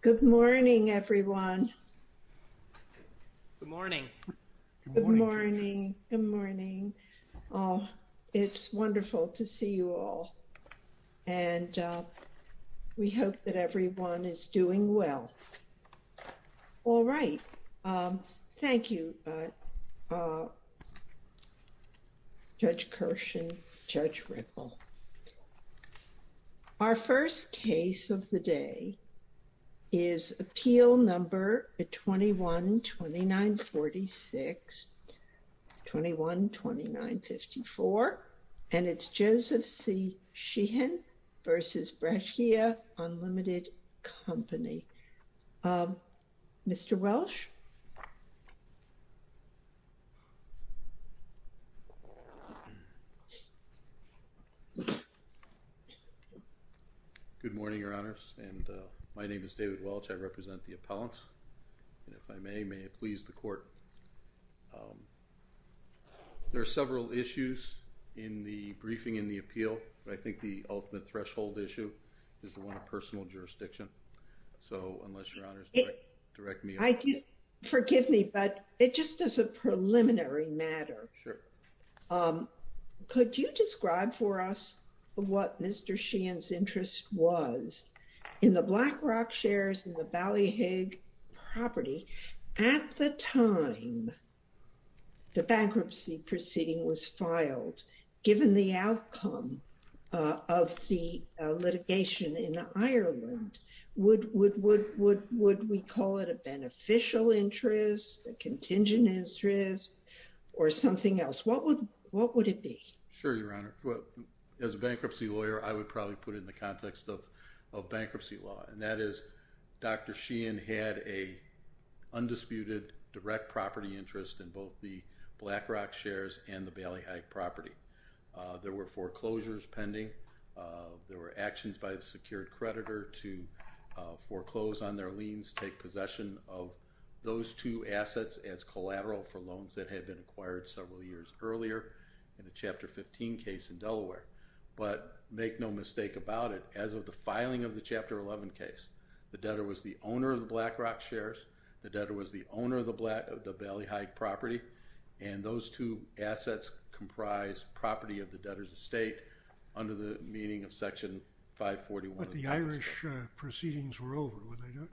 Good morning, everyone. Good morning. Good morning. Good morning. It's wonderful to see you all. And we hope that everyone is doing well. All right. Thank you. Judge Kirsch and Judge Ripple. Our first case of the day is appeal number 21-2946, 21-2954, and it's Joseph C. Sheehan v. Breccia Unlimited Company. Mr. Welch? Good morning, Your Honors, and my name is David Welch. I represent the appellants. And if I may, may it please the Court. There are several issues in the briefing in the appeal, but I think the ultimate threshold issue is the one of personal jurisdiction. So unless, Your Honors, direct me on that. Forgive me, but it just is a preliminary matter. Could you describe for us what Mr. Sheehan's interest was in the BlackRock shares in the bankruptcy proceeding was filed, given the outcome of the litigation in Ireland? Would we call it a beneficial interest, a contingent interest, or something else? What would it be? Sure, Your Honor. As a bankruptcy lawyer, I would probably put it in the context of bankruptcy law, that is, Dr. Sheehan had an undisputed direct property interest in both the BlackRock shares and the Bailey Height property. There were foreclosures pending. There were actions by the secured creditor to foreclose on their liens, take possession of those two assets as collateral for loans that had been acquired several years earlier in the Chapter 15 case in Delaware. But make no mistake about it, as of the filing of the Chapter 11 case, the debtor was the owner of the BlackRock shares, the debtor was the owner of the Bailey Height property, and those two assets comprise property of the debtor's estate under the meaning of Section 541. But the Irish proceedings were over, were they not?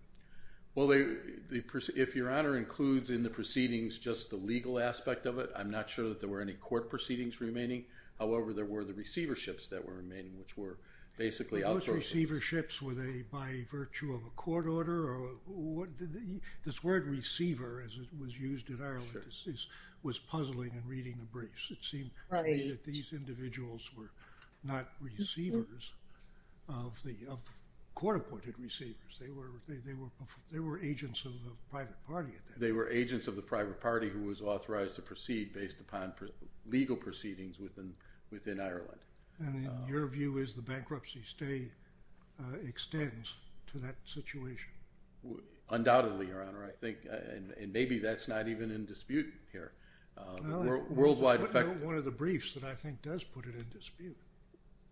Well, if Your Honor includes in the proceedings just the legal aspect of it, I'm not sure that any court proceedings were remaining. However, there were the receiverships that were remaining, which were basically outsourced. Were those receiverships, were they by virtue of a court order? This word receiver, as it was used in Ireland, was puzzling in reading the briefs. It seemed to me that these individuals were not receivers of court-appointed receivers. They were agents of the private party at that time. They were agents of the private party who was authorized to proceed based upon legal proceedings within Ireland. And your view is the bankruptcy stay extends to that situation? Undoubtedly, Your Honor. I think, and maybe that's not even in dispute here. One of the briefs that I think does put it in dispute.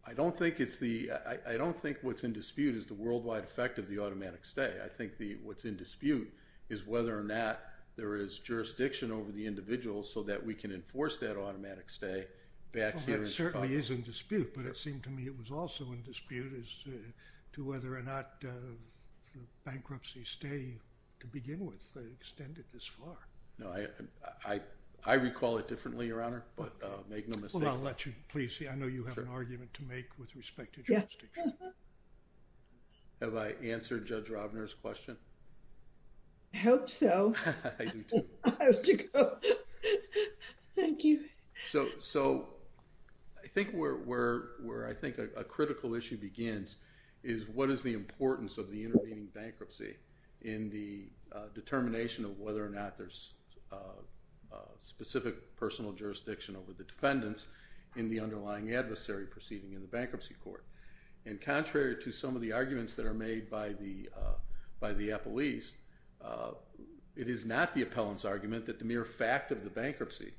I don't think it's the, I don't think what's in dispute is the worldwide effect of the automatic stay. I think the, what's in dispute is whether or not there is jurisdiction over the individual so that we can enforce that automatic stay back here. Well, that certainly is in dispute, but it seemed to me it was also in dispute as to whether or not the bankruptcy stay, to begin with, extended this far. No, I recall it differently, Your Honor, but make no mistake. Well, I'll let you please see. I know you have an argument to make with respect to jurisdiction. Have I answered Judge Robner's question? I hope so. I do too. Thank you. So, I think where I think a critical issue begins is what is the importance of the intervening bankruptcy in the determination of whether or not there's specific personal jurisdiction over the defendants in the underlying adversary proceeding in the bankruptcy court? And contrary to some of the arguments that are made by the appellees, it is not the appellant's argument that the mere fact of the bankruptcy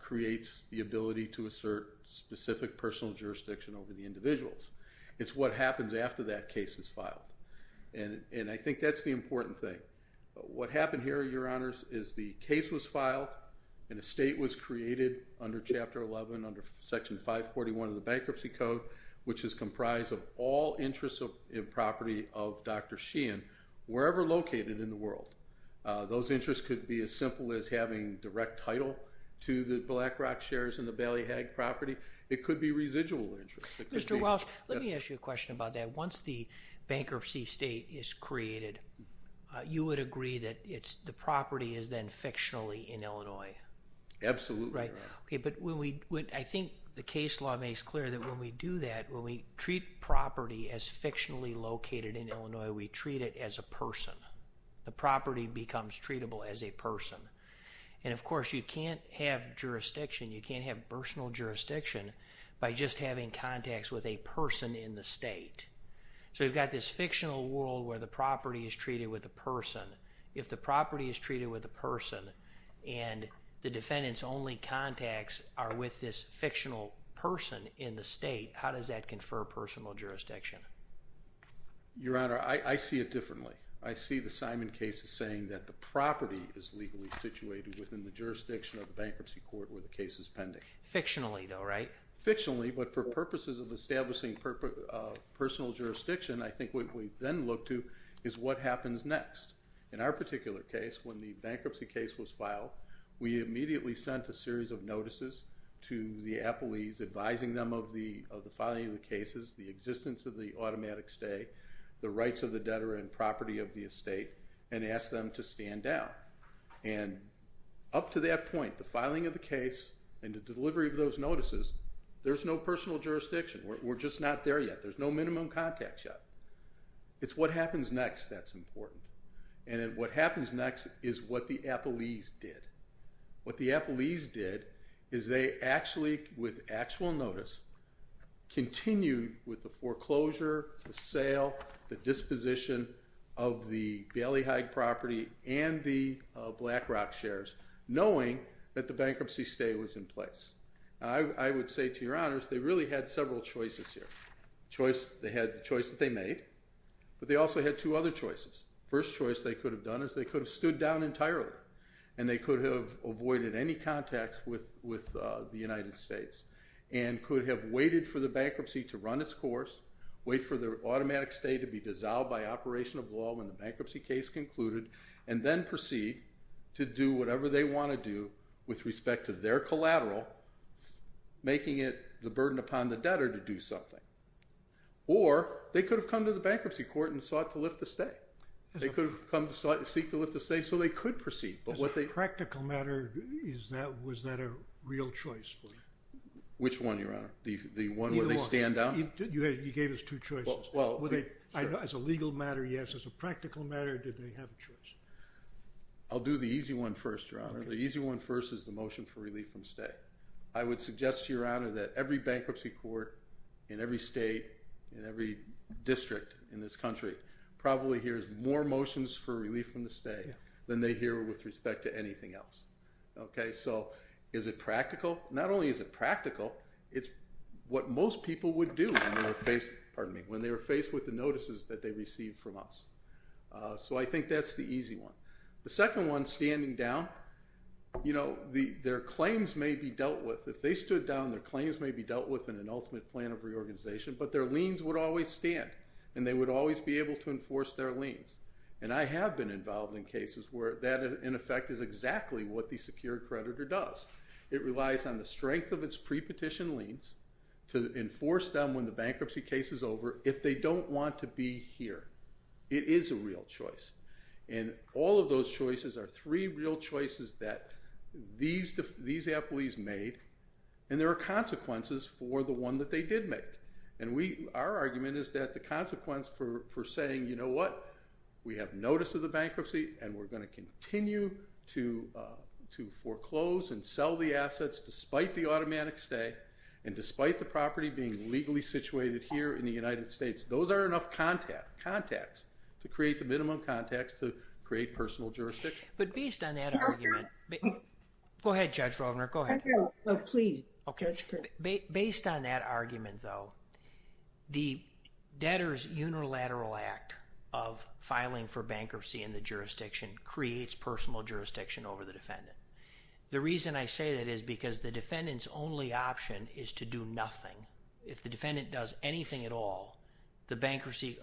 creates the ability to assert specific personal jurisdiction over the individuals. It's what happens after that case is filed, and I think that's the important thing. What happened here, Your Honors, is the case was filed and a state was created under Chapter 11, under Section 541 of the Bankruptcy Code, which is comprised of all interests and property of Dr. Sheehan, wherever located in the world. Those interests could be as simple as having direct title to the BlackRock shares in the Ballyhag property. It could be residual interests. Mr. Walsh, let me ask you a question about that. Once the bankruptcy state is created, you would agree that the property is then fictionally in Illinois? Absolutely, Your Honor. But I think the case law makes clear that when we do that, when we treat property as fictionally located in Illinois, we treat it as a person. The property becomes treatable as a person. And of course, you can't have jurisdiction, you can't have personal jurisdiction by just having contacts with a person in the state. So you've got this fictional world where the property is treated with a person. If the property is treated with a person and the defendant's only contacts are with this fictional person in the state, how does that confer personal jurisdiction? Your Honor, I see it differently. I see the Simon case as saying that the property is legally situated within the jurisdiction of the bankruptcy court where the case is pending. Fictionally, though, right? Fictionally, but for purposes of establishing personal jurisdiction, I think what we then look to is what happens next. In our particular case, when the bankruptcy case was filed, we immediately sent a series of notices to the appellees advising them of the filing of the cases, the existence of the automatic stay, the rights of the debtor and property of the estate, and asked them to stand down. And up to that point, the filing of the case and the delivery of those notices, there's no personal jurisdiction. We're just not there yet. There's no minimum contact yet. It's what happens next that's important. And what happens next is what the appellees did. What the appellees did is they actually, with actual notice, continued with the foreclosure, the sale, the disposition of the Bailey Hyde property and the Black Rock shares, knowing that the bankruptcy stay was in place. I would say to Your Honors, they really had several choices here. They had the choice that they made, but they also had two other choices. First choice they could have done is they could have stood down entirely, and they could have avoided any contacts with the United States, and could have waited for the bankruptcy to run its course, wait for the automatic stay to be dissolved by operation of law when the bankruptcy case concluded, and then proceed to do whatever they want to do with respect to their collateral, making it the burden upon the debtor to do something. Or they could have come to the bankruptcy court and sought to lift the stay. They could have come to seek to lift the stay, so they could proceed. As a practical matter, was that a real choice for you? Which one, Your Honor? The one where they stand down? You gave us two choices. As a legal matter, yes. As a practical matter, did they have a choice? I'll do the easy one first, Your Honor. The easy one first is the motion for relief from stay. I would suggest to Your Honor that every bankruptcy court in every state, in every district in this country probably hears more motions for relief from the stay than they hear with respect to anything else. So is it practical? Not only is it practical, it's what most people would do when they were faced with the notices that they received from us. So I think that's the easy one. The second one, standing down, you know, their claims may be dealt with. If they stood down, their claims may be dealt with in an ultimate plan of reorganization, but their liens would always stand, and they would always be able to enforce their liens. And I have been involved in cases where that, in effect, is exactly what the secured creditor does. It relies on the strength of its pre-petition liens to enforce them when the bankruptcy case is over if they don't want to be here. It is a real choice. And all of those choices are three real choices that these employees made, and there are consequences for the one that they did make. And our argument is that the consequence for saying, you know what, we have notice of the bankruptcy, and we're going to continue to foreclose and sell the assets despite the automatic stay and despite the property being legally situated here in the United States, those are enough contacts to create the minimum contacts to create personal jurisdiction. But based on that argument, go ahead, Judge Rovner, go ahead. No, no, please. Okay. Based on that argument, though, the Debtor's Unilateral Act of filing for bankruptcy in the jurisdiction creates personal jurisdiction over the defendant. The reason I say that is because the defendant's only option is to do nothing. If the defendant does anything at all, the bankruptcy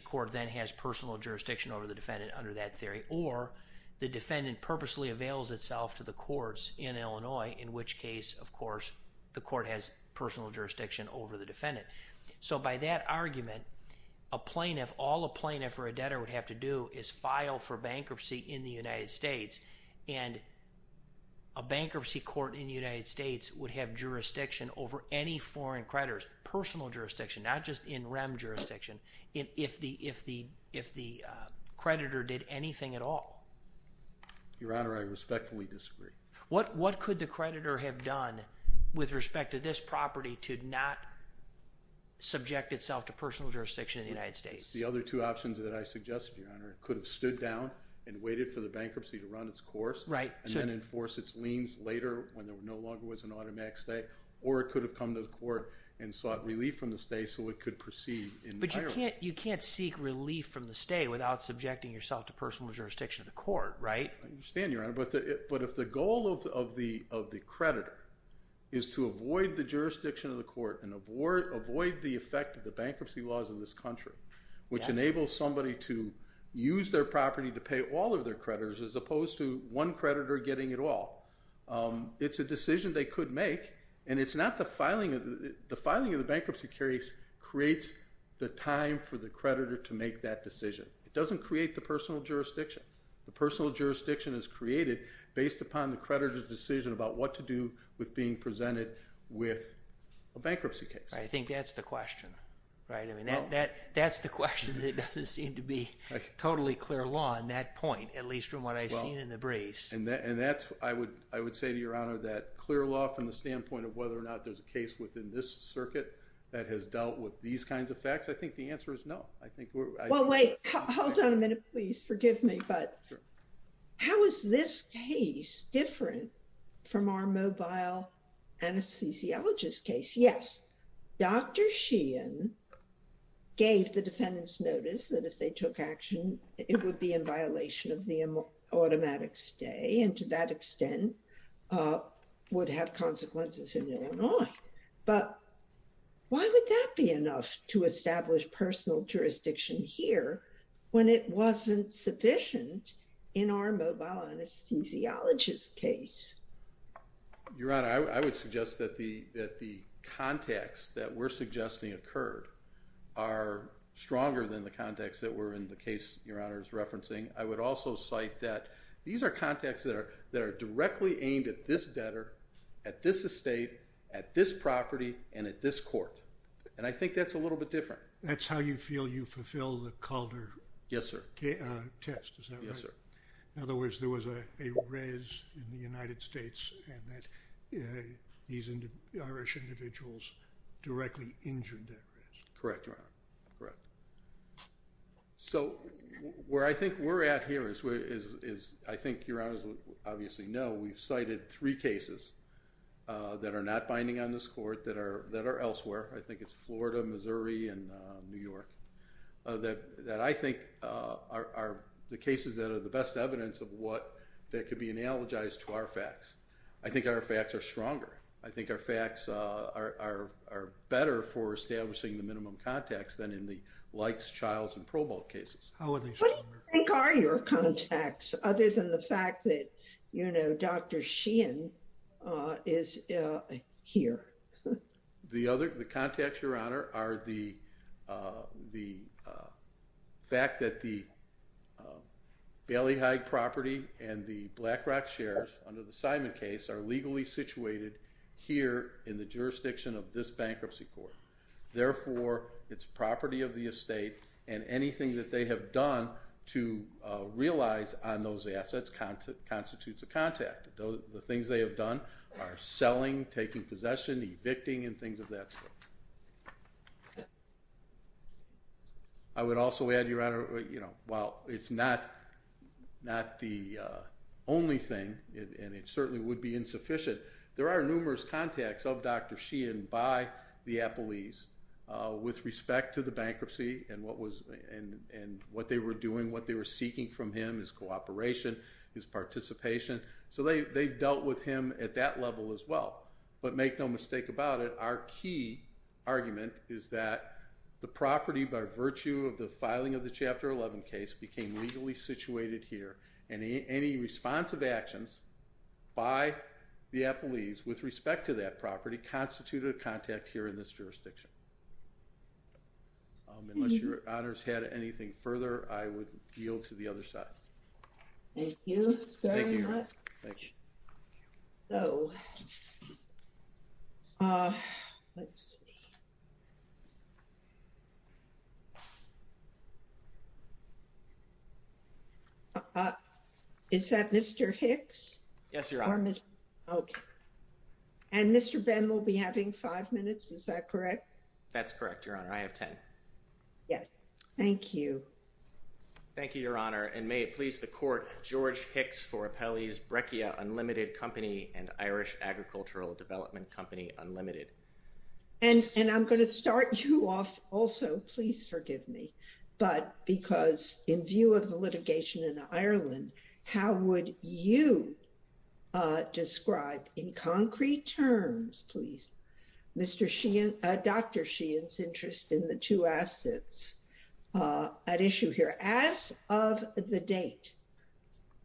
court then has personal jurisdiction over the defendant under that theory, or the defendant purposely avails itself to the courts in Illinois, in which case, of course, the court has personal jurisdiction over the defendant. So by that argument, a plaintiff, all a plaintiff or a debtor would have to do is file for bankruptcy in the United States, and a bankruptcy court in the United States would have jurisdiction over any foreign creditors, personal jurisdiction, not just in-rem jurisdiction, if the creditor did anything at all. Your Honor, I respectfully disagree. What could the creditor have done with respect to this property to not subject itself to personal jurisdiction in the United States? The other two options that I suggest, Your Honor, could have stood down and waited for the bankruptcy to run its course, and then enforce its liens later when there no longer was an automatic stay, or it could have come to the court and sought relief from the stay so it could proceed. You can't seek relief from the stay without subjecting yourself to personal jurisdiction of the court, right? I understand, Your Honor, but if the goal of the creditor is to avoid the jurisdiction of the court and avoid the effect of the bankruptcy laws of this country, which enables somebody to use their property to pay all of their creditors as opposed to one creditor getting it all, it's a decision they could make, and it's not the filing of the bankruptcy case creates the time for the creditor to make that decision. It doesn't create the personal jurisdiction. The personal jurisdiction is created based upon the creditor's decision about what to do with being presented with a bankruptcy case. I think that's the question, right? I mean, that's the question that doesn't seem to be totally clear law on that point, at least from what I've seen in the briefs. And that's, I would say to Your Honor, that clear law from the standpoint of whether or not there's a case within this circuit that has dealt with these kinds of facts, I think the answer is no. I think we're... Well, wait, hold on a minute, please. Forgive me. But how is this case different from our mobile anesthesiologist case? Yes, Dr. Sheehan gave the defendants notice that if they took action, it would be in violation of the automatic stay, and to that extent, would have consequences in Illinois. But why would that be enough to establish personal jurisdiction here when it wasn't sufficient in our mobile anesthesiologist case? Your Honor, I would suggest that the context that we're suggesting occurred are stronger than the context that we're in the case Your Honor is referencing. I would also cite that these are contexts that are directly aimed at this debtor, at this estate, at this property, and at this court. And I think that's a little bit different. That's how you feel you fulfill the Calder... Yes, sir. ...test, is that right? Yes, sir. In other words, there was a res in the United States and that these Irish individuals directly injured that res. Correct, Your Honor. Correct. So where I think we're at here is, I think Your Honor obviously know, we've cited three cases that are not binding on this court that are elsewhere. I think it's Florida, Missouri, and New York that I think are the cases that are the best evidence of what that could be analogized to our facts. I think our facts are stronger. I think our facts are better for establishing the minimum context than in the Likes, Childs, and Probold cases. How are they stronger? What are your contacts, other than the fact that Dr. Sheehan is here? The contacts, Your Honor, are the fact that the Bailey Hyde property and the BlackRock shares, under the Simon case, are legally situated here in the jurisdiction of this bankruptcy court. Therefore, it's property of the estate and anything that they have done to realize on those assets constitutes a contact. The things they have done are selling, taking possession, evicting, and things of that sort. I would also add, Your Honor, while it's not the only thing, and it certainly would be with respect to the bankruptcy and what they were doing, what they were seeking from him, his cooperation, his participation, so they've dealt with him at that level as well. But make no mistake about it, our key argument is that the property, by virtue of the filing of the Chapter 11 case, became legally situated here, and any responsive actions by the appellees with respect to that property constitute a contact here in this jurisdiction. Unless Your Honor's had anything further, I would yield to the other side. Thank you very much. Is that Mr. Hicks? Yes, Your Honor. Okay. And Mr. Bem will be having five minutes, is that correct? That's correct, Your Honor. I have 10. Yes, thank you. Thank you, Your Honor. And may it please the Court, George Hicks for Appellees Breccia Unlimited Company and Irish Agricultural Development Company Unlimited. And I'm going to start you off also, please forgive me, but because in view of the litigation in Ireland, how would you describe in concrete terms, please, Dr. Sheehan's interest in the two assets at issue here? As of the date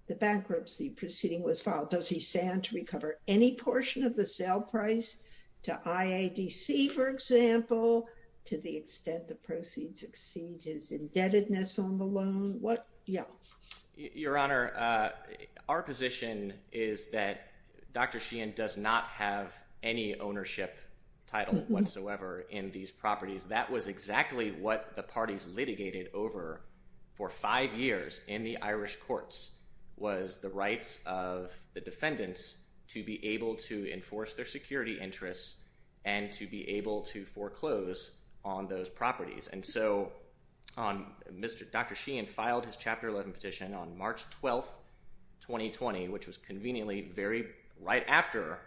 the bankruptcy proceeding was filed, does he stand to recover any portion of the sale price to IADC, for example, to the extent the proceeds exceed his indebtedness on the loan? Yeah. Your Honor, our position is that Dr. Sheehan does not have any ownership title whatsoever in these properties. That was exactly what the parties litigated over for five years in the Irish courts was the rights of the defendants to be able to enforce their security interests and to be able to foreclose on those properties. And so Dr. Sheehan filed his Chapter 11 petition on March 12, 2020, which was conveniently very right after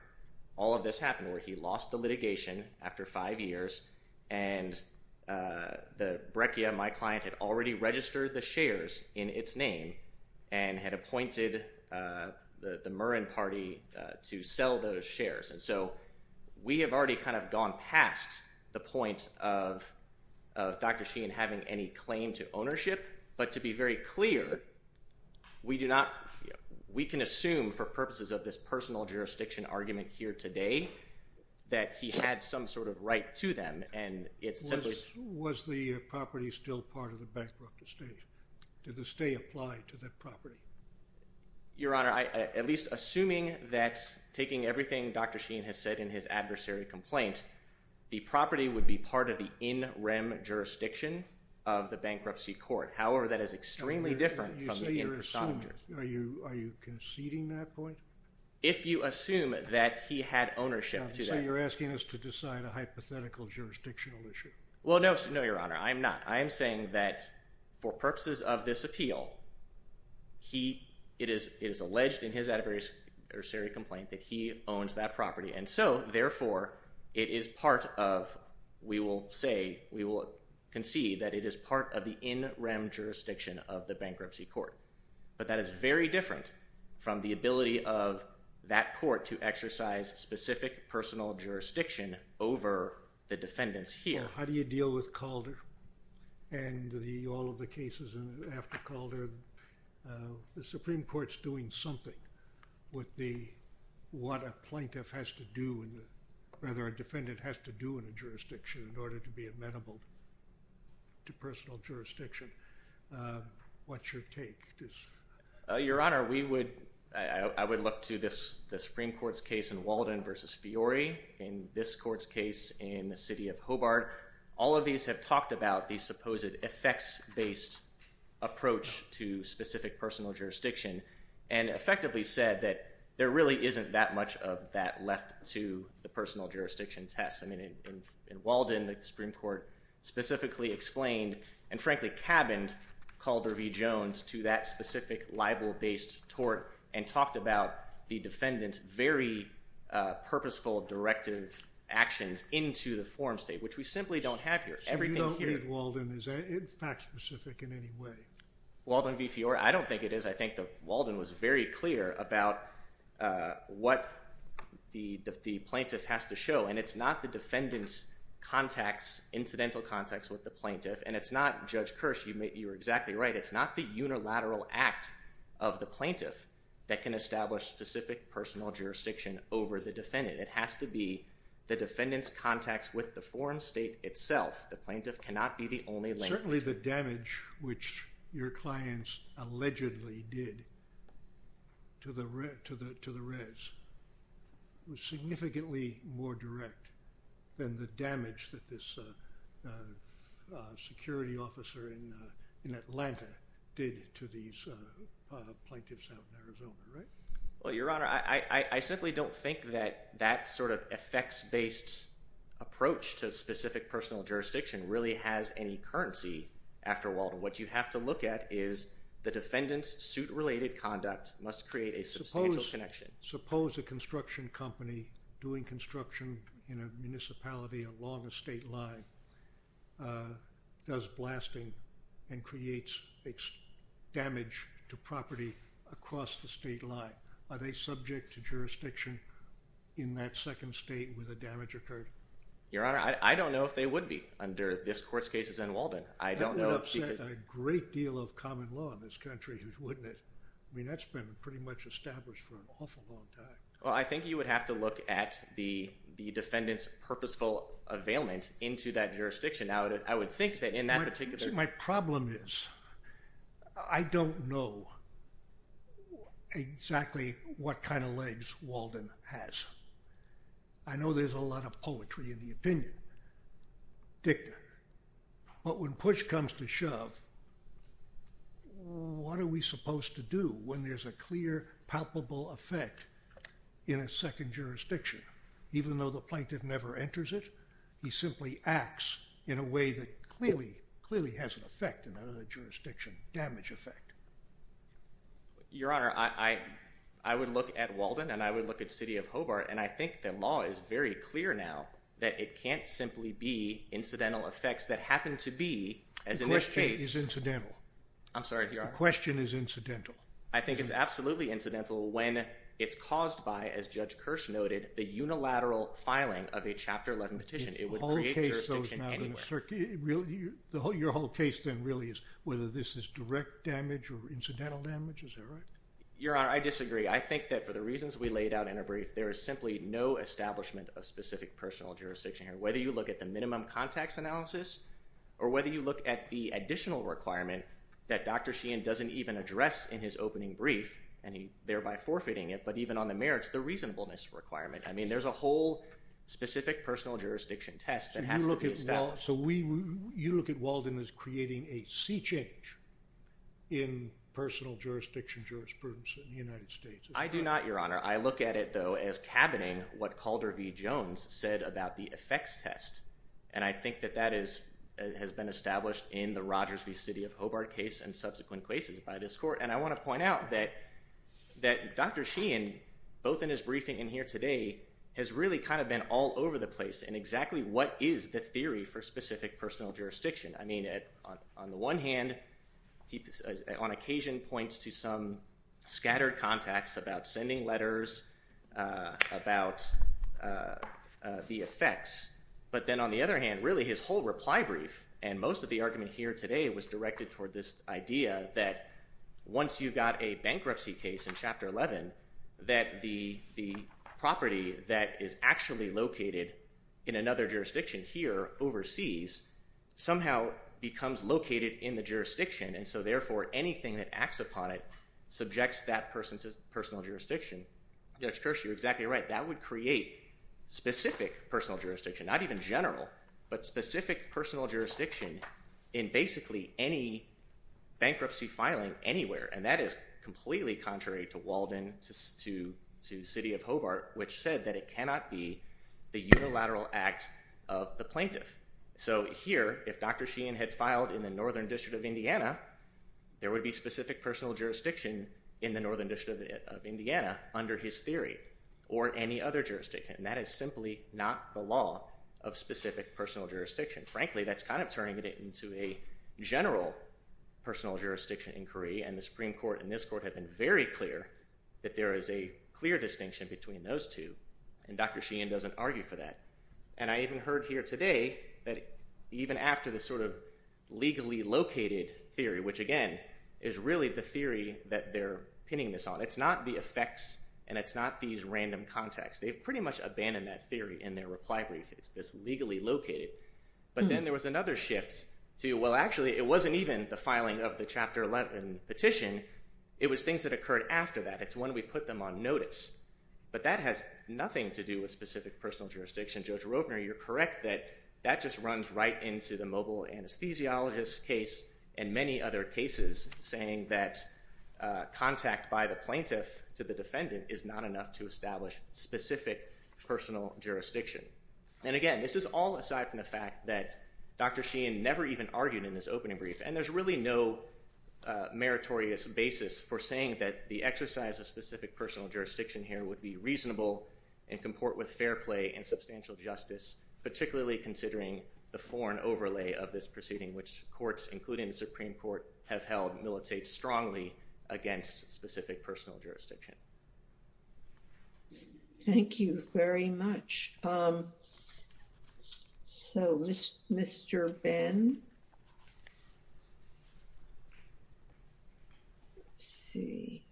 all of this happened, where he lost the litigation after five years. And the Breccia, my client, had already registered the shares in its name and had appointed the Murren party to sell those shares. So we have already kind of gone past the point of Dr. Sheehan having any claim to ownership. But to be very clear, we can assume for purposes of this personal jurisdiction argument here today that he had some sort of right to them. Was the property still part of the bankrupt estate? Did the stay apply to that property? Your Honor, at least assuming that taking everything Dr. Sheehan has said in his adversary complaint, the property would be part of the in-rem jurisdiction of the bankruptcy court. However, that is extremely different from the in person. Are you conceding that point? If you assume that he had ownership to that. So you're asking us to decide a hypothetical jurisdictional issue? Well, no, Your Honor. I'm not. For purposes of this appeal, it is alleged in his adversary complaint that he owns that property. And so, therefore, it is part of, we will say, we will concede that it is part of the in-rem jurisdiction of the bankruptcy court. But that is very different from the ability of that court to exercise specific personal jurisdiction over the defendants here. How do you deal with Calder and all of the cases after Calder? The Supreme Court's doing something with what a plaintiff has to do, rather, a defendant has to do in a jurisdiction in order to be amenable to personal jurisdiction. What's your take? Your Honor, I would look to the Supreme Court's case in Walden versus Fiore. In this court's case in the city of Hobart, all of these have talked about the supposed effects-based approach to specific personal jurisdiction and effectively said that there really isn't that much of that left to the personal jurisdiction test. I mean, in Walden, the Supreme Court specifically explained and, frankly, cabined Calder v. Jones to that specific libel-based tort and talked about the defendant's very purposeful directive actions into the forum state, which we simply don't have here. So you don't think Walden is fact-specific in any way? Walden v. Fiore, I don't think it is. I think Walden was very clear about what the plaintiff has to show. And it's not the defendant's contacts, incidental contacts with the plaintiff. And it's not, Judge Kirsch, you're exactly right. It's not the unilateral act of the plaintiff that can establish specific personal jurisdiction over the defendant. It has to be the defendant's contacts with the forum state itself. The plaintiff cannot be the only link. Certainly the damage which your clients allegedly did to the res was significantly more direct than the damage that this security officer in Atlanta did to these plaintiffs out in Arizona, right? Well, Your Honor, I simply don't think that that sort of effects-based approach to specific personal jurisdiction really has any currency after Walden. What you have to look at is the defendant's suit-related conduct must create a substantial connection. Suppose a construction company doing construction in a municipality along a state line does a construction in a municipality along a state line, are they subject to jurisdiction in that second state where the damage occurred? Your Honor, I don't know if they would be under this court's cases and Walden. I don't know because- That would upset a great deal of common law in this country, wouldn't it? I mean, that's been pretty much established for an awful long time. Well, I think you would have to look at the defendant's purposeful availment into that jurisdiction. Now, I would think that in that particular- My problem is I don't know exactly what kind of legs Walden has. I know there's a lot of poetry in the opinion dicta, but when push comes to shove, what are we supposed to do when there's a clear palpable effect in a second jurisdiction? Even though the plaintiff never enters it, he simply acts in a way that clearly has an effect in another jurisdiction, damage effect. Your Honor, I would look at Walden and I would look at City of Hobart, and I think the law is very clear now that it can't simply be incidental effects that happen to be, as in this case- The question is incidental. I'm sorry, Your Honor. The question is incidental. I think it's absolutely incidental when it's caused by, as Judge Kirsch noted, the unilateral filing of a Chapter 11 petition. It would create jurisdiction anywhere. The whole case goes now to the circuit. Your whole case then really is whether this is direct damage or incidental damage. Is that right? Your Honor, I disagree. I think that for the reasons we laid out in our brief, there is simply no establishment of specific personal jurisdiction here. Whether you look at the minimum contacts analysis or whether you look at the additional requirement that Dr. Sheehan doesn't even address in his opening brief, and he thereby forfeiting it, but even on the merits, the reasonableness requirement. I mean, there's a whole specific personal jurisdiction test that has to be established. So you look at Walden as creating a sea change in personal jurisdiction jurisprudence in the United States. I do not, Your Honor. I look at it, though, as cabining what Calder v. Jones said about the effects test, and I think that that has been established in the Rogers v. City of Hobart case and subsequent cases by this Court. And I want to point out that Dr. Sheehan, both in his briefing and here today, has really kind of been all over the place in exactly what is the theory for specific personal jurisdiction. I mean, on the one hand, he on occasion points to some scattered contacts about sending letters, about the effects. But then on the other hand, really, his whole reply brief and most of the argument here today was directed toward this idea that once you've got a bankruptcy case in Chapter 11, that the property that is actually located in another jurisdiction here overseas somehow becomes located in the jurisdiction. And so therefore, anything that acts upon it subjects that person to personal jurisdiction. Judge Kirsch, you're exactly right. That would create specific personal jurisdiction, not even general, but specific personal jurisdiction in basically any bankruptcy filing anywhere. And that is completely contrary to Walden, to City of Hobart, which said that it cannot be the unilateral act of the plaintiff. So here, if Dr. Sheehan had filed in the Northern District of Indiana, there would be specific personal jurisdiction in the Northern District of Indiana under his theory, or any other jurisdiction. And that is simply not the law of specific personal jurisdiction. Frankly, that's kind of turning it into a general personal jurisdiction inquiry. And the Supreme Court and this Court have been very clear that there is a clear distinction between those two. And Dr. Sheehan doesn't argue for that. And I even heard here today that even after the sort of legally located theory, which again, is really the theory that they're pinning this on. It's not the effects, and it's not these random contacts. They've pretty much abandoned that theory in their reply brief. It's this legally located. But then there was another shift to, well, actually, it wasn't even the filing of the Chapter 11 petition. It was things that occurred after that. It's when we put them on notice. But that has nothing to do with specific personal jurisdiction. Judge Rovner, you're correct that that just runs right into the mobile anesthesiologist case and many other cases saying that contact by the plaintiff to the defendant is not enough to establish specific personal jurisdiction. And again, this is all aside from the fact that Dr. Sheehan never even argued in this opening brief. And there's really no meritorious basis for saying that the exercise of specific personal jurisdiction here would be reasonable and comport with fair play and substantial justice, particularly considering the foreign overlay of this proceeding, which courts, including the Supreme Court, have held militates strongly against specific personal jurisdiction. Thank you very much. So, Mr. Ben, let's see.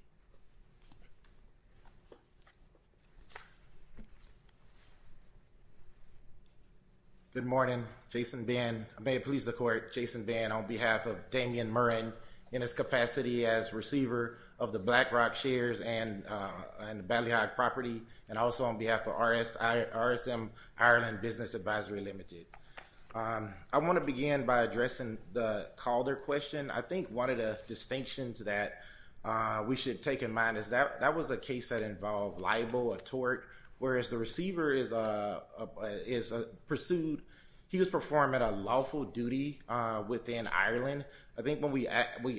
Good morning. Jason Ben. I may please the court. Jason Ben on behalf of Damien Murren in his capacity as receiver of the Black Rock Shares and the Ballyhock property and also on behalf of RSM Ireland Business Advisory Limited. I want to begin by addressing the Calder question. I think one of the distinctions that we should take in mind is that that was a case that pursued. He was performing a lawful duty within Ireland. I think when we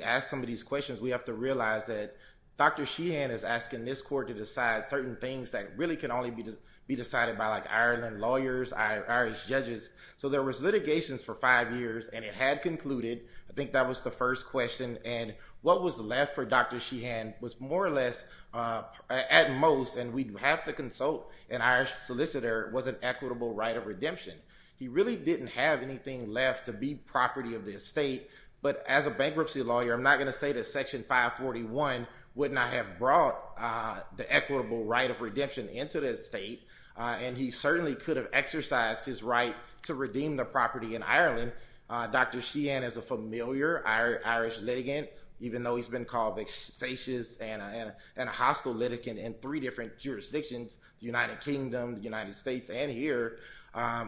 ask some of these questions, we have to realize that Dr. Sheehan is asking this court to decide certain things that really can only be decided by Ireland lawyers, Irish judges. So there was litigations for five years, and it had concluded. I think that was the first question. And what was left for Dr. Sheehan was more or less, at most, and we do have to consult an Irish solicitor, was an equitable right of redemption. He really didn't have anything left to be property of the estate, but as a bankruptcy lawyer, I'm not going to say that Section 541 would not have brought the equitable right of redemption into the state, and he certainly could have exercised his right to redeem the property in Ireland. Dr. Sheehan is a familiar Irish litigant, even though he's been called a facious and three different jurisdictions, the United Kingdom, the United States, and here,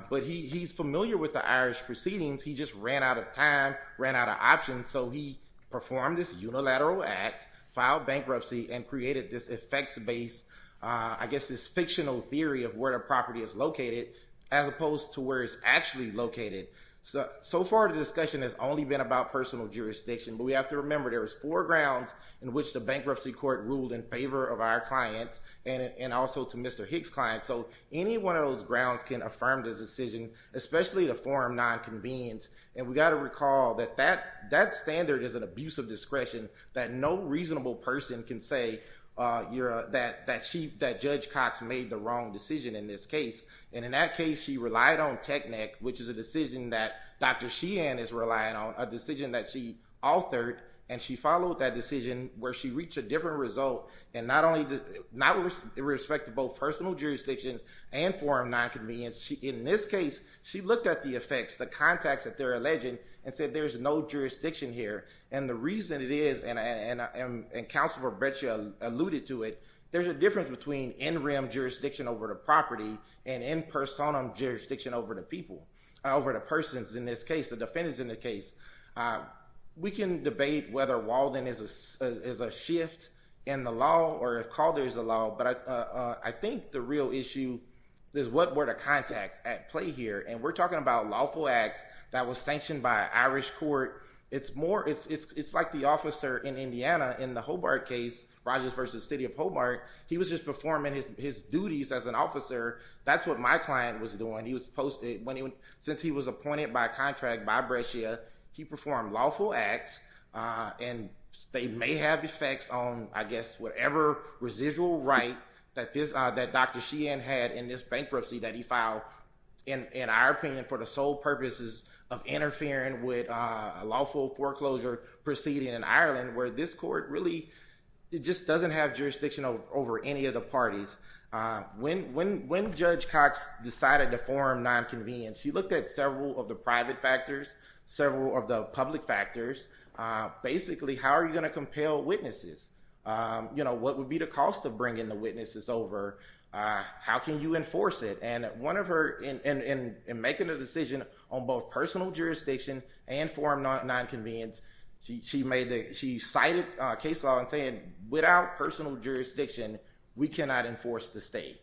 but he's familiar with the Irish proceedings. He just ran out of time, ran out of options, so he performed this unilateral act, filed bankruptcy, and created this effects-based, I guess this fictional theory of where the property is located, as opposed to where it's actually located. So far, the discussion has only been about personal jurisdiction, but we have to remember there's four grounds in which the bankruptcy court ruled in favor of our clients, and also to Mr. Hicks' clients. So any one of those grounds can affirm this decision, especially to form nonconvenience, and we got to recall that that standard is an abuse of discretion that no reasonable person can say that Judge Cox made the wrong decision in this case, and in that case, she relied on TECNEC, which is a decision that Dr. Sheehan is relying on, a decision that she authored, and she followed that decision, where she reached a different result, and not only, not with respect to both personal jurisdiction and form nonconvenience, in this case, she looked at the effects, the contacts that they're alleging, and said there's no jurisdiction here, and the reason it is, and Counselor Bertia alluded to it, there's a difference between in-rim jurisdiction over the property, and in-personum jurisdiction over the people, over the persons in this case, the defendants in the case. We can debate whether Walden is a shift in the law, or if Calder is a law, but I think the real issue is what were the contacts at play here, and we're talking about lawful acts that was sanctioned by an Irish court, it's more, it's like the officer in Indiana, in the Hobart case, Rogers versus City of Hobart, he was just performing his duties as an officer, that's what my client was doing. Since he was appointed by a contract by Bertia, he performed lawful acts, and they may have effects on, I guess, whatever residual right that Dr. Sheehan had in this bankruptcy that he filed, in our opinion, for the sole purposes of interfering with a lawful foreclosure proceeding in Ireland, where this court really, it just doesn't have jurisdiction over any of the parties. When Judge Cox decided to form non-convenience, she looked at several of the private factors, several of the public factors, basically, how are you going to compel witnesses? What would be the cost of bringing the witnesses over? How can you enforce it? And one of her, in making a decision on both personal jurisdiction and form non-convenience, she made the, she cited case law and saying, without personal jurisdiction, we cannot enforce the stay.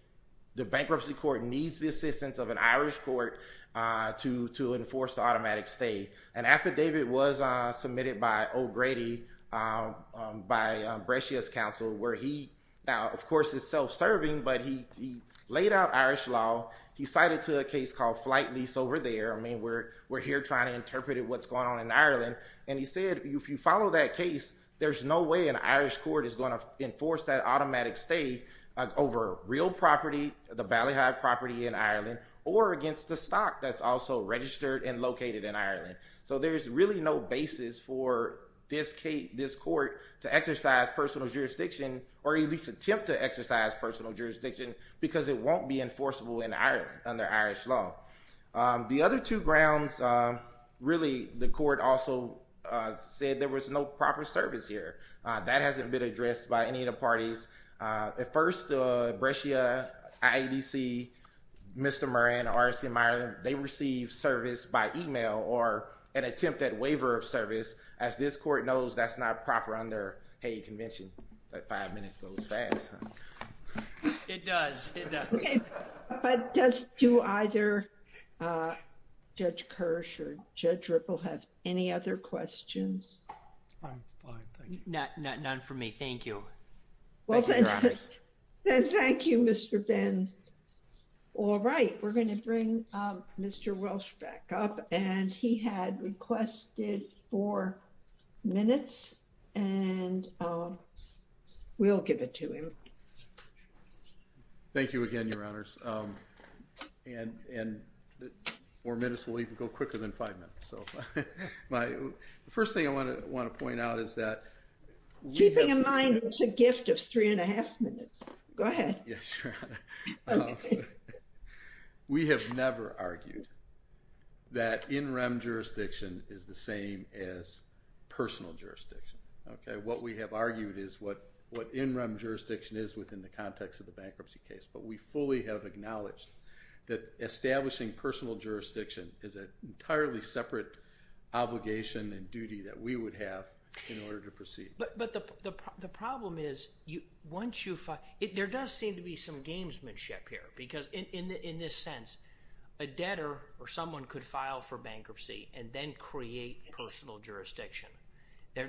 The bankruptcy court needs the assistance of an Irish court to enforce the automatic stay. An affidavit was submitted by O'Grady, by Brescia's counsel, where he, now, of course, is self-serving, but he laid out Irish law, he cited to a case called Flight Lease over there, I mean, we're here trying to interpret what's going on in Ireland. And he said, if you follow that case, there's no way an Irish court is going to enforce that automatic stay over real property, the Ballyhive property in Ireland, or against the stock that's also registered and located in Ireland. So there's really no basis for this court to exercise personal jurisdiction, or at least attempt to exercise personal jurisdiction, because it won't be enforceable in Ireland under Irish law. The other two grounds, really, the court also said there was no proper service here. That hasn't been addressed by any of the parties. At first, Brescia, IADC, Mr. Murray, and RCM Ireland, they received service by email, or an attempt at waiver of service. As this court knows, that's not proper under Hague Convention. That five minutes goes fast. It does. It does. But does, do either Judge Kirsch or Judge Ripple have any other questions? I'm fine. Thank you. None for me. Thank you. Thank you, Your Honor. Thank you, Mr. Ben. All right. We're going to bring Mr. Welsh back up. And he had requested four minutes, and we'll give it to him. Thank you again, Your Honors. And four minutes will even go quicker than five minutes. So the first thing I want to point out is that we have never argued that in-rem jurisdiction is the same as personal jurisdiction. What we have argued is what in-rem jurisdiction is within the context of the bankruptcy case. But we fully have acknowledged that establishing personal jurisdiction is an entirely separate obligation and duty that we would have in order to proceed. But the problem is, once you file, there does seem to be some gamesmanship here. Because in this sense, a debtor or someone could file for bankruptcy and then create personal jurisdiction.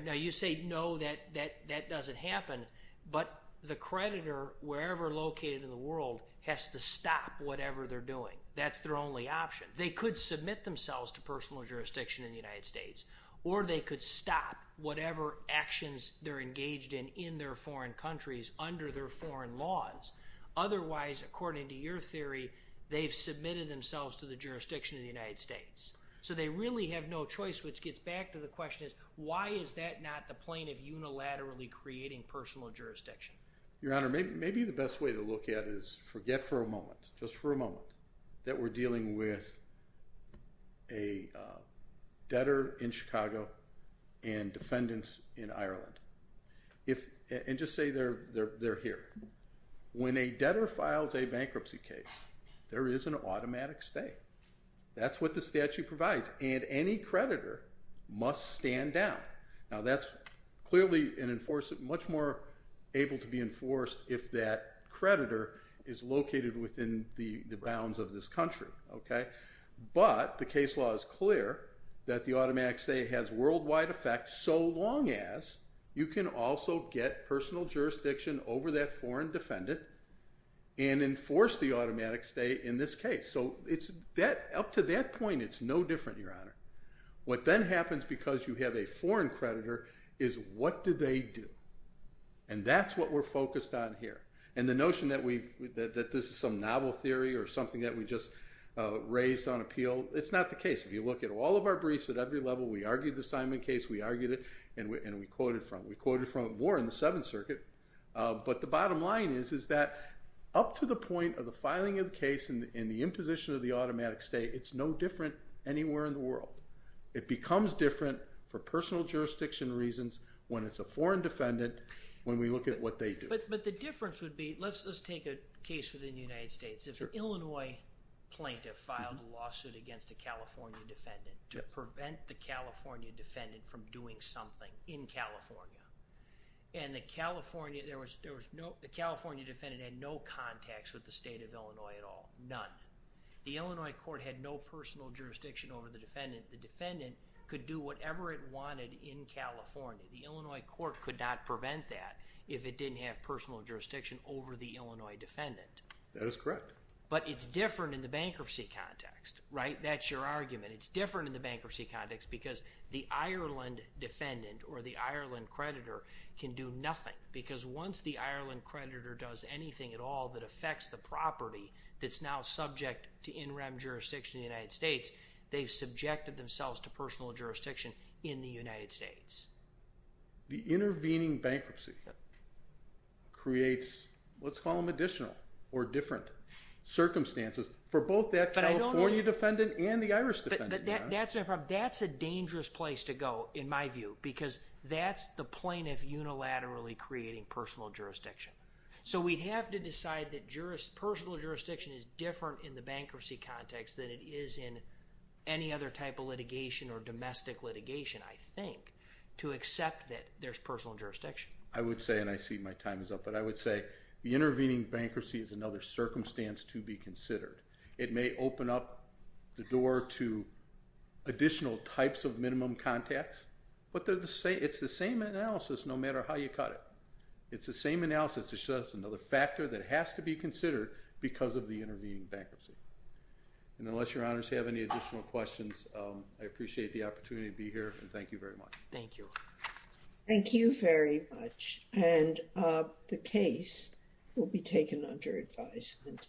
Now, you say, no, that doesn't happen. But the creditor, wherever located in the world, has to stop whatever they're doing. That's their only option. They could submit themselves to personal jurisdiction in the United States. Or they could stop whatever actions they're engaged in in their foreign countries under their foreign laws. Otherwise, according to your theory, they've submitted themselves to the jurisdiction of the United States. So they really have no choice, which gets back to the question is, why is that not the plane of unilaterally creating personal jurisdiction? Your Honor, maybe the best way to look at it is forget for a moment, just for a moment, that we're dealing with a debtor in Chicago and defendants in Ireland. And just say they're here. When a debtor files a bankruptcy case, there is an automatic stay. That's what the statute provides. And any creditor must stand down. Now, that's clearly much more able to be enforced if that creditor is located within the bounds of this country. But the case law is clear that the automatic stay has worldwide effect so long as you can also get personal jurisdiction over that foreign defendant and enforce the automatic stay in this case. So up to that point, it's no different, Your Honor. What then happens, because you have a foreign creditor, is what do they do? And that's what we're focused on here. And the notion that this is some novel theory or something that we just raised on appeal, it's not the case. If you look at all of our briefs at every level, we argued the Simon case, we argued it, and we quoted from it. We quoted from it more in the Seventh Circuit. But the bottom line is that up to the point of the filing of the case and the imposition of the automatic stay, it's no different anywhere in the world. It becomes different for personal jurisdiction reasons when it's a foreign defendant when we look at what they do. But the difference would be, let's take a case within the United States. If an Illinois plaintiff filed a lawsuit against a California defendant to prevent the California defendant from doing something in California. And the California defendant had no contacts with the state of Illinois at all, none. The Illinois court had no personal jurisdiction over the defendant. The defendant could do whatever it wanted in California. The Illinois court could not prevent that if it didn't have personal jurisdiction over the Illinois defendant. That is correct. But it's different in the bankruptcy context, right? That's your argument. It's different in the bankruptcy context because the Ireland defendant or the Ireland creditor can do nothing. Because once the Ireland creditor does anything at all that affects the property that's now subject to in-rem jurisdiction in the United States, they've subjected themselves to personal jurisdiction in the United States. The intervening bankruptcy creates, let's call them additional or different circumstances for both that California defendant and the Irish defendant. But that's my problem. That's a dangerous place to go in my view because that's the plaintiff unilaterally creating personal jurisdiction. So we'd have to decide that personal jurisdiction is different in the bankruptcy context than it is in any other type of litigation or domestic litigation, I think, to accept that there's personal jurisdiction. I would say, and I see my time is up, but I would say the intervening bankruptcy is another circumstance to be considered. It may open up the door to additional types of minimum contacts. But it's the same analysis no matter how you cut it. It's the same analysis. It's just another factor that has to be considered because of the intervening bankruptcy. And unless your honors have any additional questions, I appreciate the opportunity to be here and thank you very much. Thank you. Thank you very much. And the case will be taken under advisement.